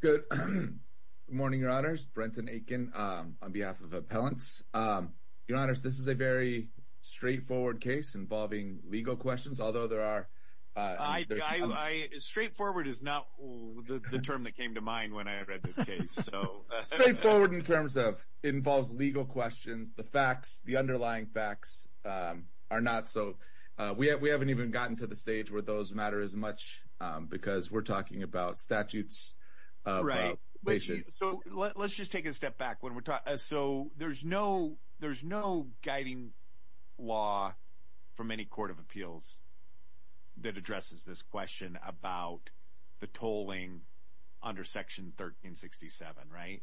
Good morning, Your Honors. Brenton Aiken on behalf of Appellants. Your Honors, this is a very straightforward case involving legal questions, although there are, uh, straightforward is not the term that came to mind when I read this case. So straightforward in terms of involves legal questions. The facts, the underlying facts, um, are not so we haven't even gotten to the stage where those matter as much because we're talking about statutes, right? So let's law for many Court of Appeals that addresses this question about the tolling under Section 1367, right?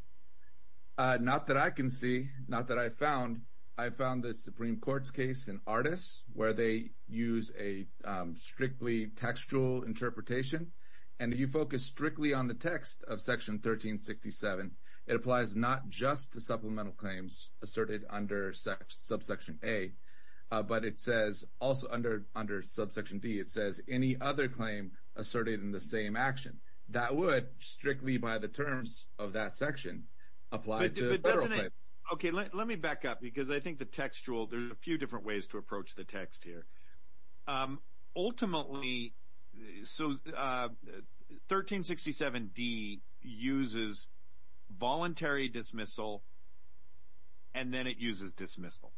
Uh, not that I can see. Not that I found. I found the Supreme Court's case and artists where they use a strictly textual interpretation and you focus strictly on the but it says also under under subsection D, it says any other claim asserted in the same action that would strictly by the terms of that section applied to. Okay, let let me back up because I think the textual there's a few different ways to approach the text here. Um, ultimately, so, uh, 1367 D uses voluntary dismissal and then it uses dismissal.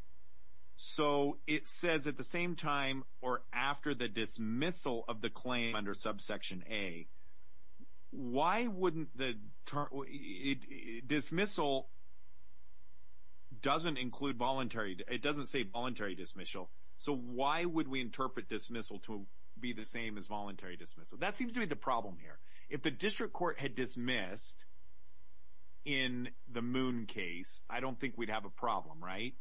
So it says at the same time or after the dismissal of the claim under subsection A, why wouldn't the dismissal doesn't include voluntary? It doesn't say voluntary dismissal. So why would we interpret dismissal to be the same as voluntary dismissal? That seems to be the problem here. If the district court had dismissed in the moon case, I don't think we'd have a problem, right?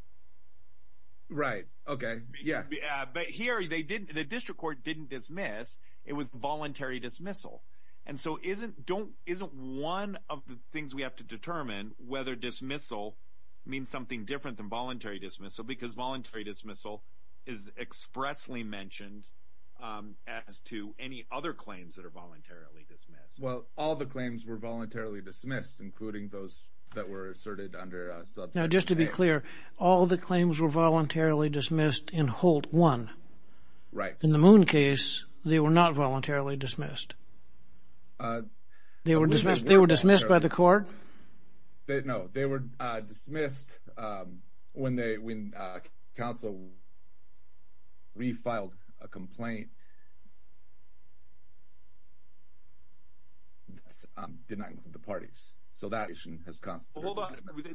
Right. Okay. Yeah, but here they didn't. The district court didn't dismiss. It was voluntary dismissal. And so isn't don't isn't one of the things we have to determine whether dismissal means something different than voluntary dismissal because voluntary dismissal is expressly mentioned as to any other claims that are voluntarily dismissed. Well, all the claims were voluntarily dismissed, including those that were asserted under subsection A. Now, just to be clear, all the claims were voluntarily dismissed in Holt 1. Right. In the moon case, they were not voluntarily dismissed. They were dismissed. They were dismissed by the court. No, they were dismissed when they when council. We filed a complaint denying the parties. So that issue has come. Hold on.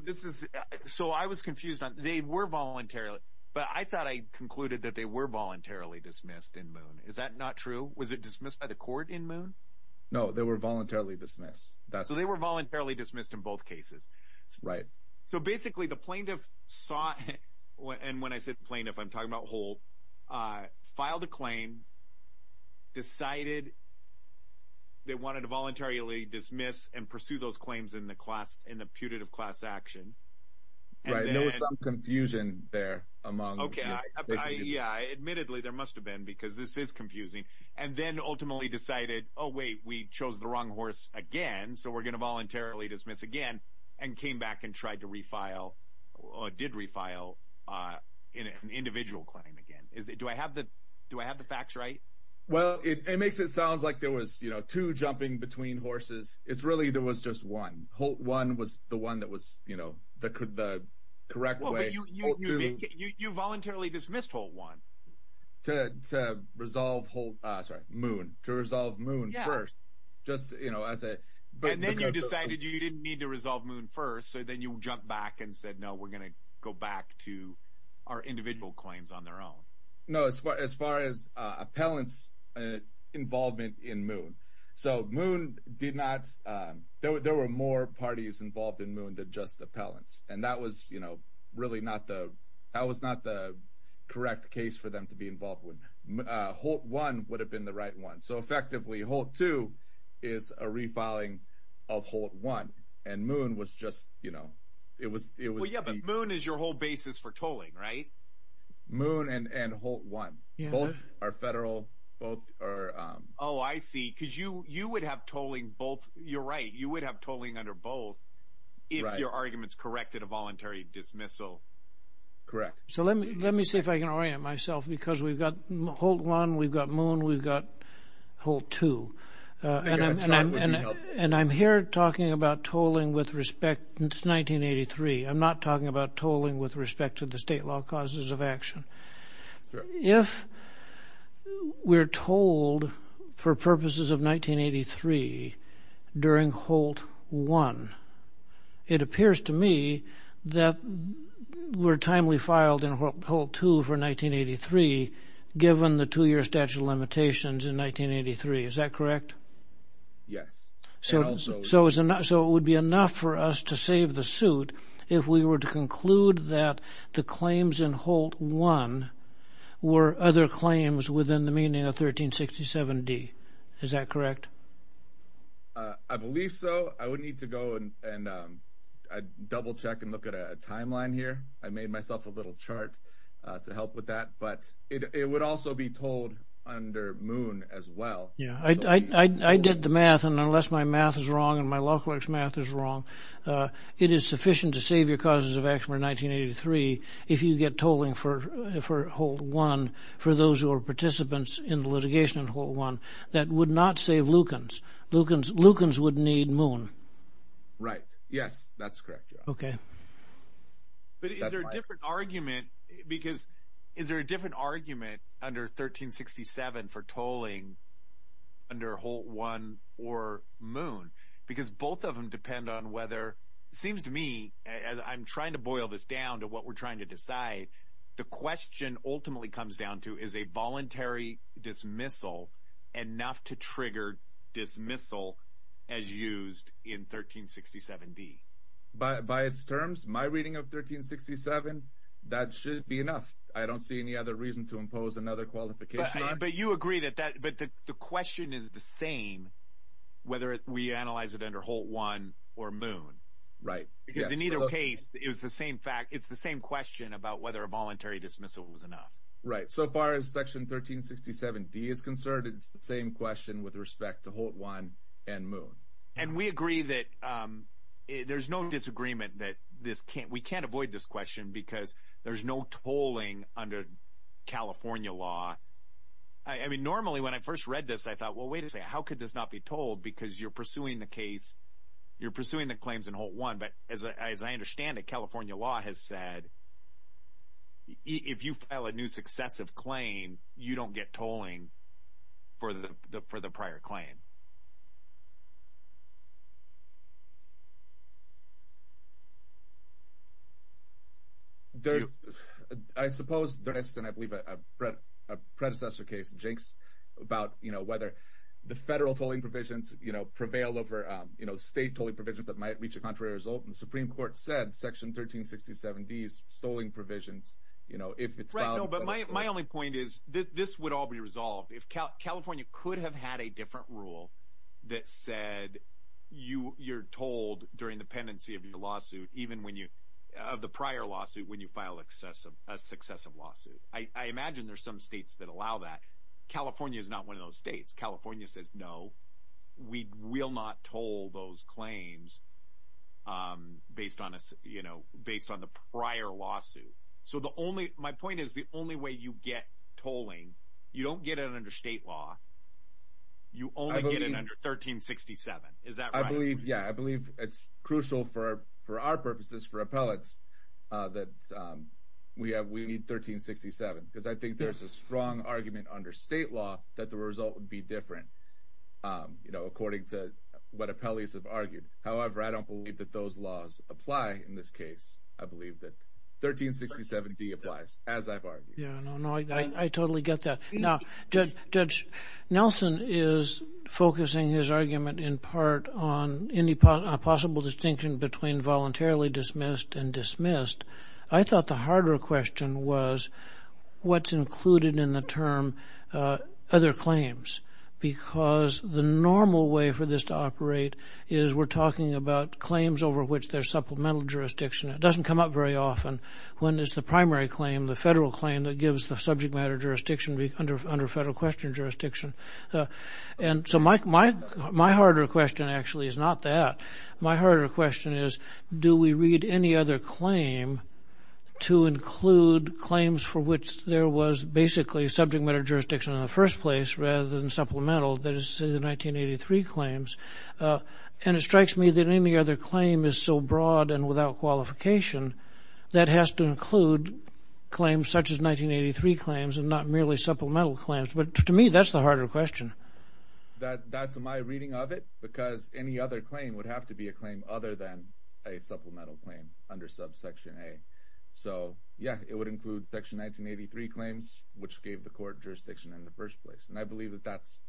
This is so I was confused. They were voluntarily. But I thought I concluded that they were voluntarily dismissed in moon. Is that not true? Was it dismissed by the court in moon? No, they were voluntarily dismissed. So they were voluntarily dismissed in both cases. Right. So basically, the plaintiff saw it. And when I said plaintiff, I'm talking about whole filed a claim. Decided. They wanted to voluntarily dismiss and pursue those claims in the class in the putative class action. Right. There was some confusion there among. OK. Yeah. Admittedly, there must have been because this is confusing and then ultimately decided, oh, wait, we chose the wrong horse again. So we're going to voluntarily dismiss again and came back and tried to refile or did refile in an individual claim again. Is it do I have the do I have the facts right? Well, it makes it sounds like there was, you know, two jumping between horses. It's really there was just one one was the one that was, you know, that could the correct way. You voluntarily dismissed whole one to resolve whole sorry moon to resolve moon first. Just, you know, as a but then you decided you didn't need to resolve moon first. So then you jump back and said, no, we're going to go back to our individual claims on their own. No, as far as far as appellants involvement in moon. So moon did not. There were more parties involved in moon than just appellants. And that was, you know, really not the that was not the correct case for them to be involved with. Holt one would have been the right one. So effectively, Holt two is a refiling of Holt one. And moon was just, you know, it was it was. Yeah, but moon is your whole basis for tolling, right? Moon and Holt one. Both are federal. Both are. Oh, I see. Because you you would have tolling both. You're right. You would have tolling under both if your arguments corrected a voluntary dismissal. Correct. So let me let me see if I can orient myself because we've got Holt one. We've got moon. We've got Holt two. And I'm here talking about tolling with respect to 1983. I'm not talking about tolling with respect to the state law causes of action. If we're told for purposes of 1983 during Holt one, it appears to me that we're timely filed in Holt two for 1983, given the two year statute of limitations in 1983. Is that correct? Yes. So so so it would be enough for us to save the suit if we were to conclude that the claims in Holt one were other claims within the meaning of 1367 D. Is that correct? I believe so. I would need to go and double check and look at a timeline here. I made myself a little chart to help with that. But it would also be told under moon as well. Yeah, I did the math. And unless my math is wrong and my law clerk's math is wrong, it is sufficient to save your causes of action in 1983. If you get tolling for for Holt one for those who are participants in the litigation in Holt one, that would not save Lukens. Lukens Lukens would need moon. Right. Yes, that's correct. Okay. But is there a different argument? Because is there a different argument under 1367 for tolling under Holt one or moon? Because both of them depend on whether it seems to me as I'm trying to boil this down to what we're trying to decide. The question ultimately comes down to is a my reading of 1367. That should be enough. I don't see any other reason to impose another qualification. But you agree that that but the question is the same whether we analyze it under Holt one or moon. Right. Because in either case, it was the same fact. It's the same question about whether a voluntary dismissal was enough. Right. So far as section 1367 D is concerned, it's the same question with respect to Holt one and moon. And we agree that there's no disagreement that this can't we can't avoid this question because there's no tolling under California law. I mean, normally, when I first read this, I thought, well, wait a second, how could this not be told? Because you're pursuing the case, you're pursuing the claims in Holt one. But as I understand it, California law has said, if you file a new successive claim, you don't get tolling for the prior claim. I suppose there is, and I believe a predecessor case jinxed about whether the federal tolling provisions prevail over state tolling provisions that might reach a contrary result. And the Supreme Court said section 1367 D's stoling provisions, if it's right. No, but my only point is that this would all be resolved if California could have had a different rule that said you you're told during the pendency of your lawsuit, even when you have the prior lawsuit, when you file excessive a successive lawsuit. I imagine there's some states that allow that. California is not one of those states. California says, no, we will not toll those claims based on us, you know, based on the prior lawsuit. So the only my point is, the only way you get tolling, you don't get it under state law. You only get it under 1367. Is that I believe? Yeah, I believe it's crucial for for our purposes for appellates that we have we need 1367 because I think there's a strong argument under state law that the result would be different. You know, according to what appellates have argued. However, I don't believe that those laws apply. In this case, I believe that 1367 D applies as I've argued. Yeah, no, no, I totally get that. Now, Judge Nelson is focusing his argument in part on any possible distinction between voluntarily dismissed and dismissed. I thought the harder question was what's included in the term other claims, because the normal way for this to operate is we're talking about claims over which there's supplemental jurisdiction. It doesn't come up very often when it's the primary claim, the federal claim that gives the subject matter jurisdiction under federal question jurisdiction. And so my my my harder question actually is not that. My harder question is, do we read any other claim to include claims for which there was basically subject matter jurisdiction in the first place rather than supplemental? That is, say, the 1983 claims. And it strikes me that any other claim is so broad and without qualification that has to include claims such as 1983 claims and not merely supplemental claims. But to me, that's the harder question that that's my reading of it, because any other claim would have to be a claim other than a supplemental claim under subsection A. So, yeah, it would include Section 1983 claims, which gave the court jurisdiction in the first place. And I believe that that's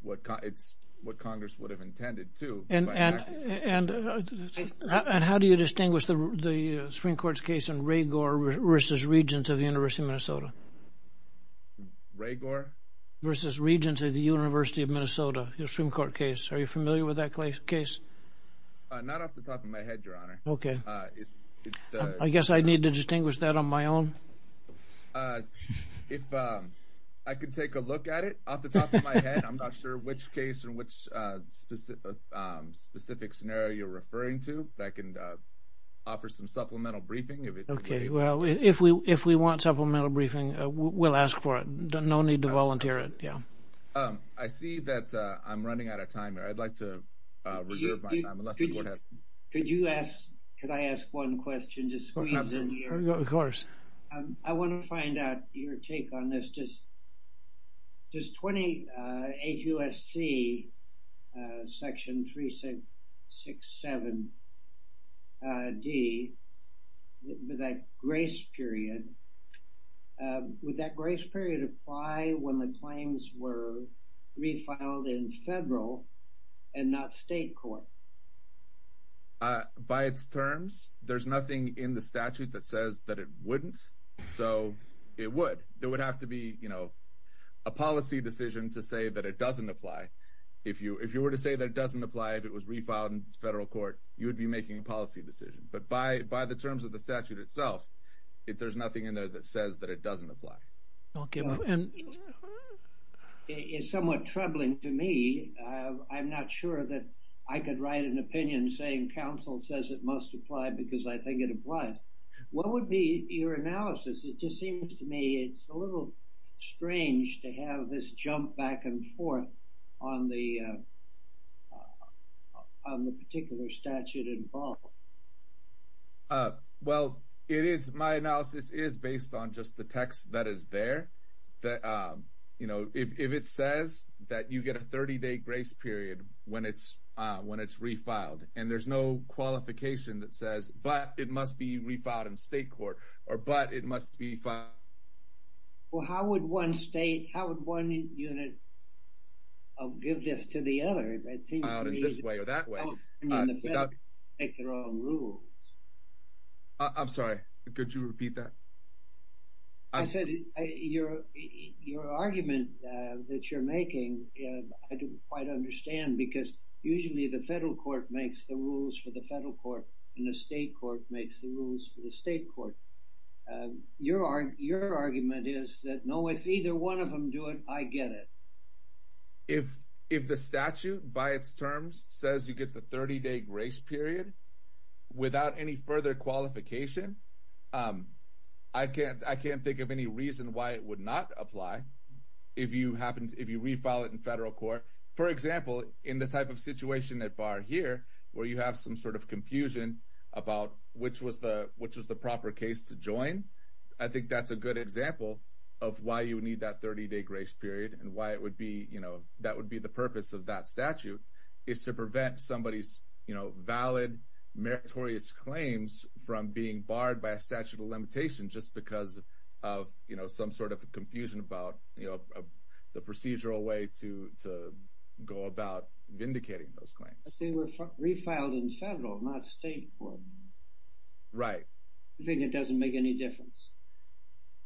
what it's what Congress would have intended to. And how do you distinguish the Supreme Court's case in Ragour versus Regents of the University of Minnesota? Ragour? Versus Regents of the University of Minnesota, the Supreme Court case. Are you familiar with that case? Not off the top of my head, Your Honor. Okay. I guess I need to distinguish that on my own. If I could take a look at it off the top of my head, I'm not sure which case in which specific scenario you're referring to. I can offer some supplemental briefing. Okay, well, if we if we want supplemental briefing, we'll ask for it. No need to volunteer it. Yeah. I see that I'm running out of time. I'd like to reserve my time. Could you ask? Could I ask one question? Of course. I want to find out your take on this. Does 28 U.S.C. section 367 D, that grace period, would that grace period apply when the claims were refiled in federal and not state court? By its terms, there's nothing in the statute that says that it wouldn't. So it would. It would have to be, you know, a policy decision to say that it doesn't apply. If you were to say that it doesn't apply, if it was refiled in federal court, you would be making a policy decision. But by the terms of the statute itself, there's nothing in there that says that it doesn't apply. Okay. It's somewhat troubling to me. I'm not sure that I could write an opinion saying counsel says it must apply because I think it applies. What would be your analysis? It just seems to me it's a little strange to have this jump back and forth on the particular statute involved. Well, my analysis is based on just the text that is there. If it says that you get a 30-day grace period when it's refiled, and there's no qualification that says, but it must be refiled in state court, or but it must be filed. Well, how would one state, how would one unit give this to the other? It seems to me... Filed in this way or that way. I'm sorry, could you repeat that? I said your argument that you're making, I didn't quite understand because usually the federal court makes the rules for the federal court and the state court makes the rules for the state court. Your argument is that no, if either one of them do it, I get it. If the statute by its terms says you get the 30-day grace period without any further qualification, I can't think of any reason why it would not apply if you refile it in federal court. For example, in the type of situation that bar here, where you have some sort of confusion about which was the proper case to join, I think that's a good example of why you would need that 30-day grace period and why that would be the purpose of that statute is to prevent somebody's valid meritorious claims from being barred by a statute of the procedural way to go about vindicating those claims. But they were refiled in federal, not state court. Right. You think it doesn't make any difference?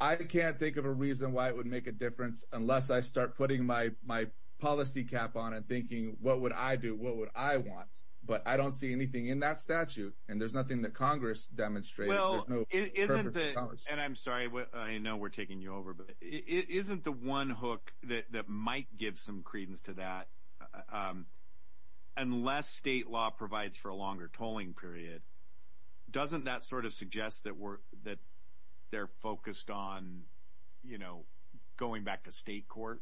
I can't think of a reason why it would make a difference unless I start putting my policy cap on and thinking, what would I do? What would I want? But I don't see anything in that statute and there's nothing that Congress demonstrated. It isn't the, and I'm sorry, I know we're taking you over, but it isn't the one hook that might give some credence to that unless state law provides for a longer tolling period. Doesn't that sort of suggest that they're focused on, you know, going back to state court?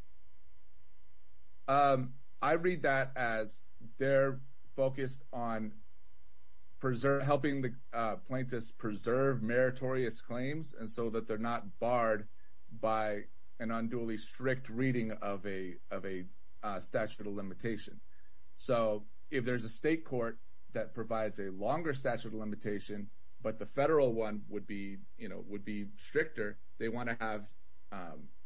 I read that as they're focused on helping the plaintiffs preserve meritorious claims and so that they're not barred by an unduly strict reading of a statute of limitation. So if there's a state court that provides a longer statute of limitation, but the federal one would be, you know, would be stricter, they want to have,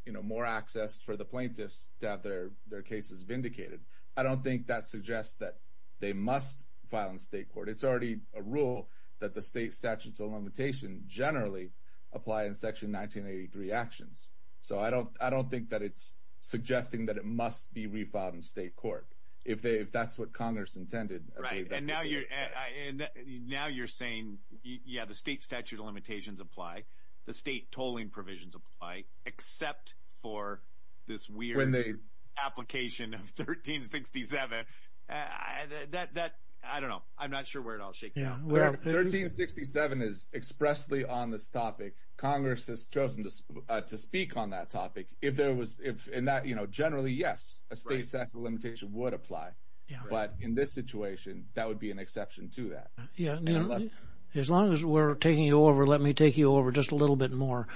you know, more access for the plaintiffs to have their cases vindicated. I don't think that suggests that they must file in state court. It's already a rule that the state statutes of limitation generally apply in section 1983 actions. So I don't think that it's suggesting that it must be refiled in state court. If they, if that's what Congress intended. Right. And now you're saying, yeah, the state statute of limitations apply, the state tolling provisions apply, except for this weird application of 1367. I don't know. I'm not sure where it all shakes out. 1367 is expressly on this topic. Congress has chosen to speak on that topic. If there was, if in that, you know, generally, yes, a state statute of limitation would apply. But in this situation, that would be an exception to that. Yeah. As long as we're taking you over, let me take you over just a little bit more.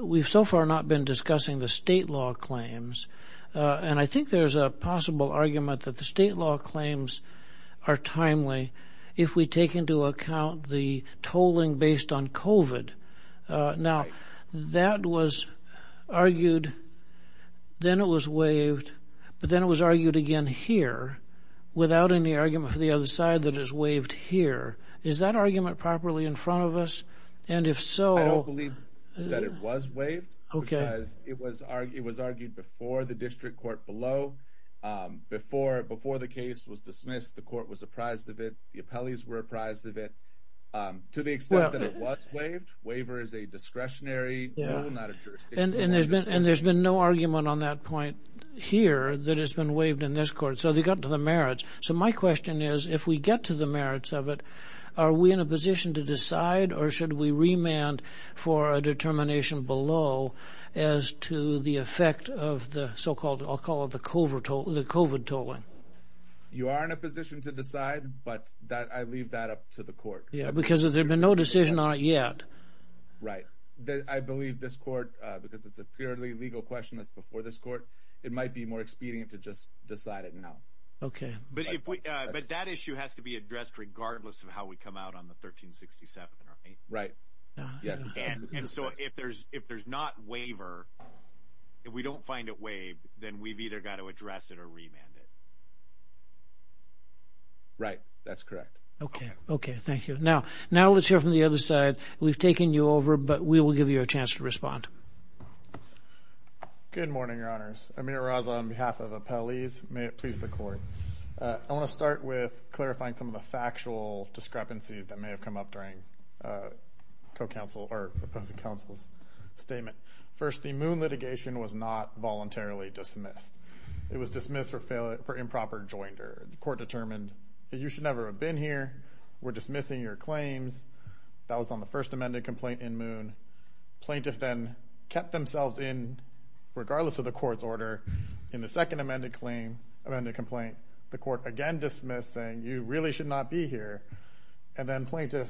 We've so far not been discussing the state law claims. And I think there's a possible argument that the state law claims are timely if we take into account the tolling based on COVID. Now, that was argued, then it was waived. But then it was argued again here, without any argument for the other side that is waived here. Is that argument properly in front of us? And if so... I don't believe that it was waived. Okay. Because it was argued before the district court below. Before the case was dismissed, the court was apprised of it. The appellees were apprised of it. To the extent that it was waived, waiver is a discretionary rule, not a jurisdiction. And there's been no argument on that point here that has been waived in this court. So they got to the merits. So my question is, if we get to the merits of it, are we in a position to decide, or should we remand for a determination below as to the effect of the so-called, I'll call it the COVID tolling? You are in a position to decide, but I leave that up to the court. Yeah, because there's been no decision on it yet. Right. I believe this court, because it's a purely legal question that's before this court, it might be more expedient to just decide it now. Okay. But that issue has to be addressed regardless of how we come out on the 1367, right? Right. Yes. And so if there's not waiver, if we don't find it waived, then we've either got to address it or remand it. Right. That's correct. Okay. Okay. Thank you. Now let's hear from the other side. We've taken you over, but we will give you a chance to respond. Good morning, Your Honors. Amir Raza on behalf of Appellees. May it please the court. I want to start with clarifying some of the factual discrepancies that may have come up during co-counsel or opposing counsel's statement. First, the Moon litigation was not voluntarily dismissed. It was dismissed for improper joinder. The court determined that you should never have been here. We're dismissing your claims. That was on the first amended complaint in Moon. Plaintiff then kept themselves in, regardless of the court's order, in the second amended complaint. The court again dismissed saying you really should not be here. And then plaintiff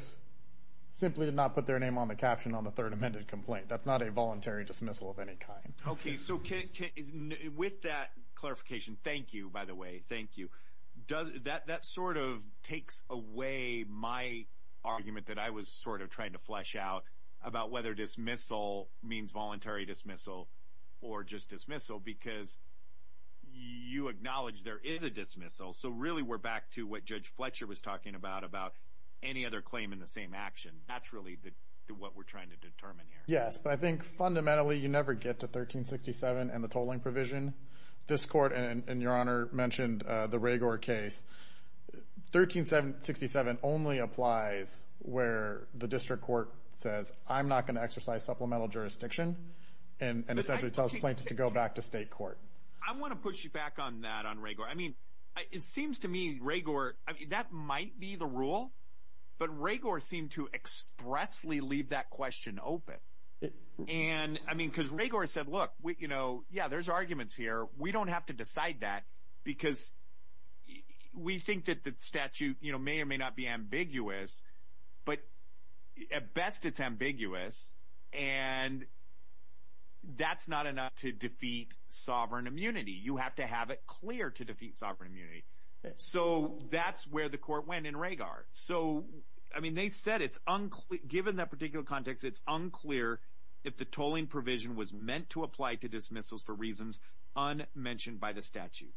simply did not put their name on the caption on the third amended complaint. That's not a voluntary dismissal of any kind. Okay. So with that clarification, thank you, by the way. Thank you. That sort of takes away my argument that I was sort of trying to flesh out about whether dismissal means voluntary dismissal or just dismissal, because you acknowledge there is a dismissal. So really, we're back to what Judge Fletcher was talking about, about any other claim in the same action. That's really what we're trying to determine here. Yes, but I think fundamentally, you never get to 1367 and the tolling provision. This court and your honor mentioned the Ragour case. 1367 only applies where the district court says, I'm not going to exercise supplemental jurisdiction and essentially tells plaintiff to go back to state court. I want to push you back on that, on Ragour. I mean, it seems to me Ragour, that might be the rule, but Ragour seemed to expressly leave that question open. And I mean, because Ragour said, look, yeah, there's arguments here. We don't have to decide that because we think that the statute, you know, may or may not be ambiguous, but at best it's ambiguous. And that's not enough to defeat sovereign immunity. You have to have it clear to defeat sovereign immunity. So that's where the court went in Ragour. So, I mean, they said it's unclear, given that particular context, it's unclear if the tolling provision was meant to apply to dismissals for reasons unmentioned by the statute.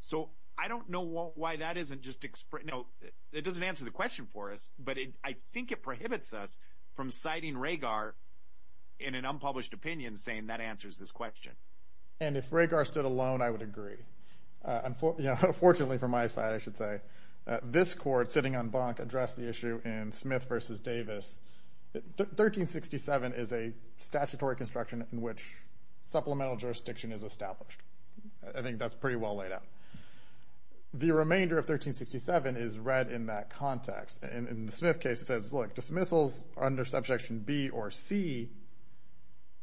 So I don't know why that isn't just, you know, it doesn't answer the question for us, but I think it prohibits us from citing Ragour in an unpublished opinion saying that answers this question. And if Ragour stood alone, I would agree. Fortunately, from my side, I should say, this court sitting on Bonk addressed the issue in Smith versus Davis. 1367 is a statutory construction in which supplemental jurisdiction is established. I think that's pretty well laid out. The remainder of 1367 is read in that context. And in the Smith case, it says, look, dismissals under subsection B or C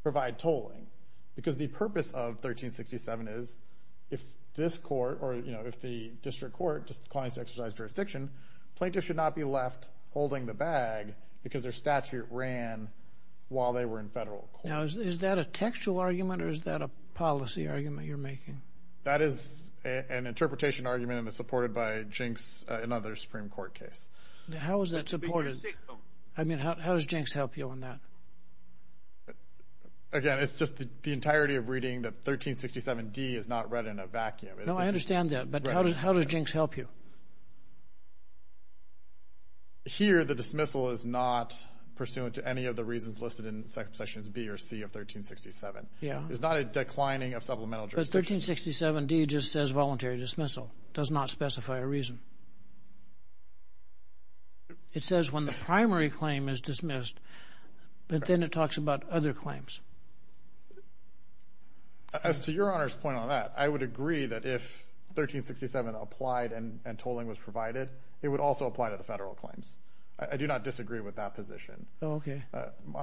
provide tolling because the purpose of 1367 is if this court, or, you know, if the district court declines to exercise jurisdiction, plaintiffs should not be left holding the bag because their statute ran while they were in federal court. Now, is that a textual argument or is that a policy argument you're making? That is an interpretation argument and is supported by Jinks and other Supreme Court case. How is that supported? I mean, how does Jinks help you on that? Again, it's just the entirety of reading that 1367 D is not read in a vacuum. No, I understand that. But how does Jinks help you? Here, the dismissal is not pursuant to any of the reasons listed in sections B or C of 1367. Yeah. It's not a declining of supplemental jurisdiction. But 1367 D just says voluntary dismissal. It does not specify a reason. It says when the primary claim is dismissed, but then it talks about other claims. As to Your Honor's point on that, I would agree that if 1367 applied and tolling was provided, it would also apply to the federal claims. I do not disagree with that position.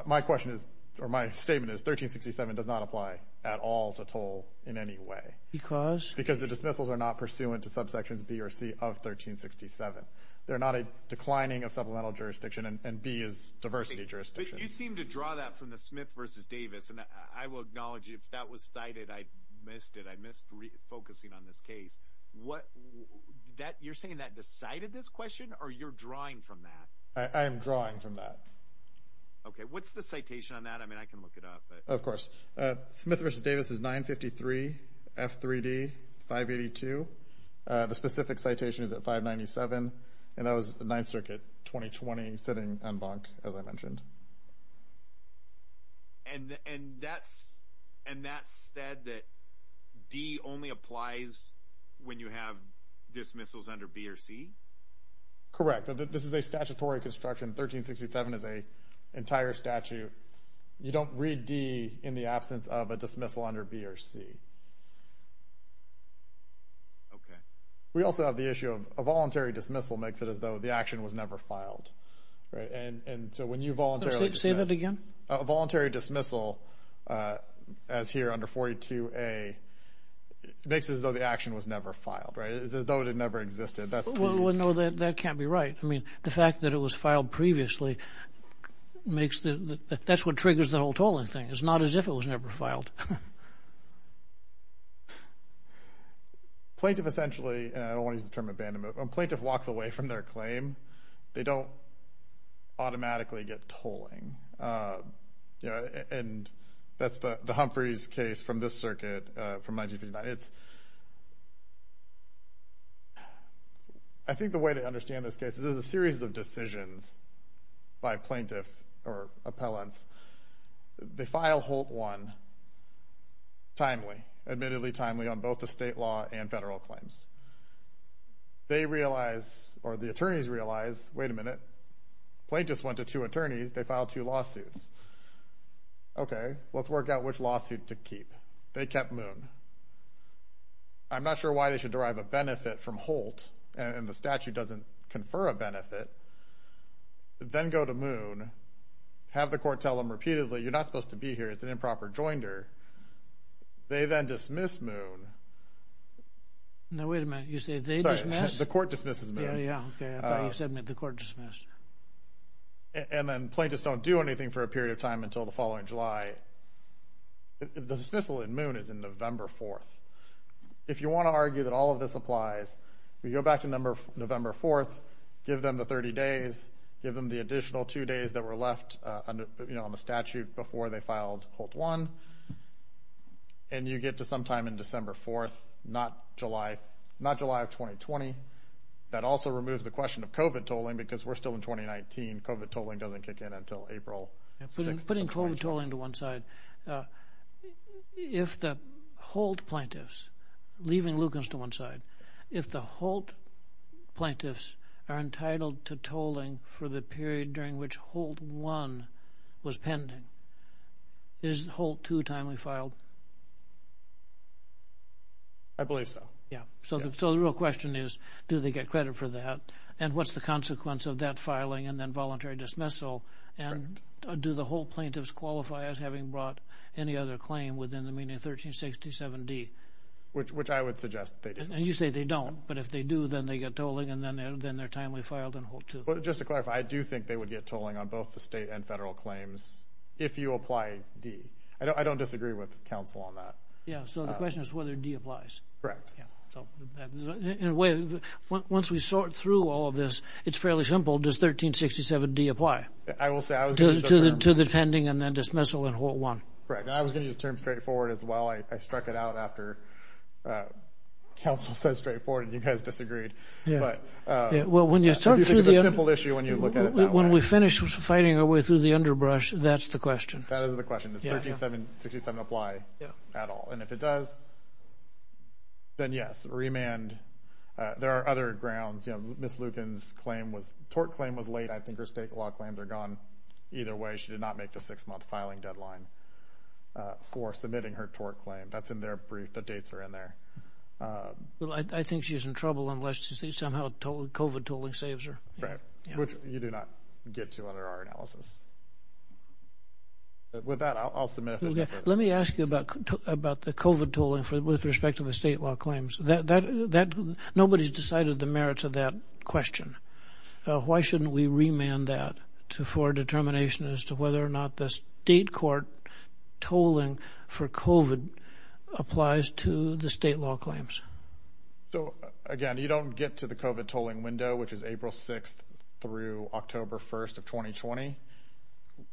My question is, or my statement is 1367 does not apply at all to toll in any way. Because? Because the dismissals are not pursuant to subsections B or C of 1367. They're not a declining of supplemental jurisdiction and B is diversity jurisdiction. You seem to draw that from the Smith v. Davis. And I will acknowledge if that was cited, I missed it. I missed focusing on this case. What that you're saying that decided this question or you're drawing from that? I am drawing from that. Okay. What's the citation on that? I mean, I can look it up, but. Of course, Smith v. Davis is 953 F3D 582. The specific citation is at 597. And that was the Ninth Circuit 2020 sitting en banc, as I mentioned. And that's, and that said that D only applies when you have dismissals under B or C? Correct. This is a statutory construction. 1367 is a entire statute. You don't read D in the absence of a dismissal under B or C. Okay. We also have the issue of a voluntary dismissal makes it as though the action was never filed. Right. And so when you voluntarily. Say that again. Voluntary dismissal, as here under 42A, makes it as though the action was never filed. As though it had never existed. That's. Well, no, that can't be right. I mean, the fact that it was filed previously makes the, that's what triggers the whole tolling thing. It's not as if it was never filed. Plaintiff essentially, and I don't want to use the term abandonment. Plaintiff walks away from their claim. They don't automatically get tolling. And that's the Humphreys case from this circuit from 1959. I think the way to understand this case is there's a series of decisions by plaintiffs or appellants. They file Holt 1. Timely, admittedly timely on both the state law and federal claims. They realize, or the attorneys realize, wait a minute. Plaintiffs went to two attorneys. They filed two lawsuits. Okay, let's work out which lawsuit to keep. They kept Moon. I'm not sure why they should derive a benefit from Holt and the statute doesn't confer a benefit. Then go to Moon. Have the court tell them repeatedly, you're not supposed to be here. It's an improper joinder. They then dismiss Moon. Now, wait a minute. You say they dismiss? The court dismisses Moon. Yeah, yeah, okay. I thought you said the court dismissed her. And then plaintiffs don't do anything for a period of time until the following July. The dismissal in Moon is in November 4th. If you want to argue that all of this applies, we go back to November 4th, give them the 30 days, give them the additional two days that were left on the statute before they filed Holt 1. And you get to sometime in December 4th, not July, not July of 2020. That also removes the question of COVID tolling because we're still in 2019. COVID tolling doesn't kick in until April 6th. Putting COVID tolling to one side. If the Holt plaintiffs, leaving Lucas to one side, if the Holt plaintiffs are entitled to tolling for the period during which Holt 1 was pending, is Holt 2 timely filed? I believe so. Yeah. So the real question is, do they get credit for that? And what's the consequence of that filing and then voluntary dismissal? And do the Holt plaintiffs qualify as having brought any other claim within the meaning of 1367 D? Which I would suggest they do. And you say they don't. But if they do, then they get tolling. And then they're timely filed in Holt 2. Just to clarify, I do think they would get tolling on both the state and federal claims if you apply D. I don't disagree with counsel on that. Yeah. So the question is whether D applies. Correct. In a way, once we sort through all of this, it's fairly simple. Does 1367 D apply? I will say I was going to use the term. To the pending and then dismissal in Holt 1. Correct. And I was going to use the term straightforward as well. I struck it out after counsel said straightforward, and you guys disagreed. Yeah. But when you start through the simple issue, when you look at it that way. When we finish fighting our way through the underbrush, that's the question. That is the question. Does 1367 D apply at all? And if it does, then yes. Remand. There are other grounds. You know, Ms. Lucan's tort claim was late. I think her state law claims are gone either way. She did not make the six-month filing deadline for submitting her tort claim. That's in their brief. The dates are in there. Well, I think she's in trouble unless she somehow COVID tooling saves her. Right. Which you do not get to under our analysis. With that, I'll submit it. Let me ask you about the COVID tooling with respect to the state law claims. Nobody's decided the merits of that question. Why shouldn't we remand that for determination as to whether or not the state court tolling for COVID applies to the state law claims? So, again, you don't get to the COVID tolling window, which is April 6th through October 1st of 2020,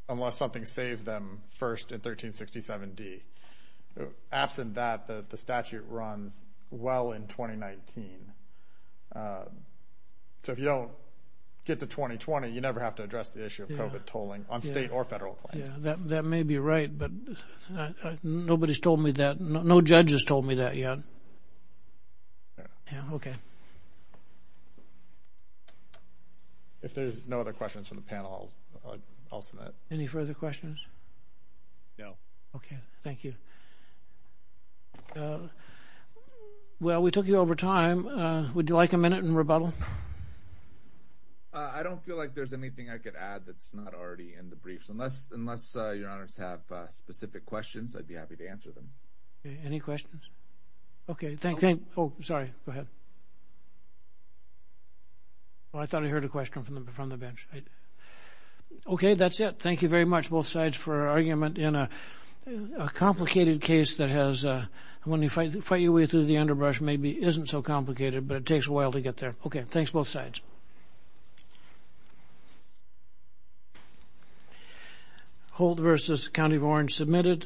unless something saves them first in 1367 D. Absent that, the statute runs well in 2019. So, if you don't get to 2020, you never have to address the issue of COVID tolling on state or federal claims. Yeah, that may be right, but nobody's told me that. No judge has told me that yet. Yeah, okay. If there's no other questions from the panel, I'll submit. Any further questions? No. Okay, thank you. Well, we took you over time. Would you like a minute in rebuttal? I don't feel like there's anything I could add that's not already in the briefs. Unless your honors have specific questions, I'd be happy to answer them. Okay, any questions? Okay, thank you. Oh, sorry. Go ahead. Well, I thought I heard a question from the bench. Okay, that's it. Thank you very much, both sides, for your argument in a complicated case. When you fight your way through the underbrush, maybe it isn't so complicated, but it takes a while to get there. Okay, thanks, both sides. Hold versus County of Orange submitted.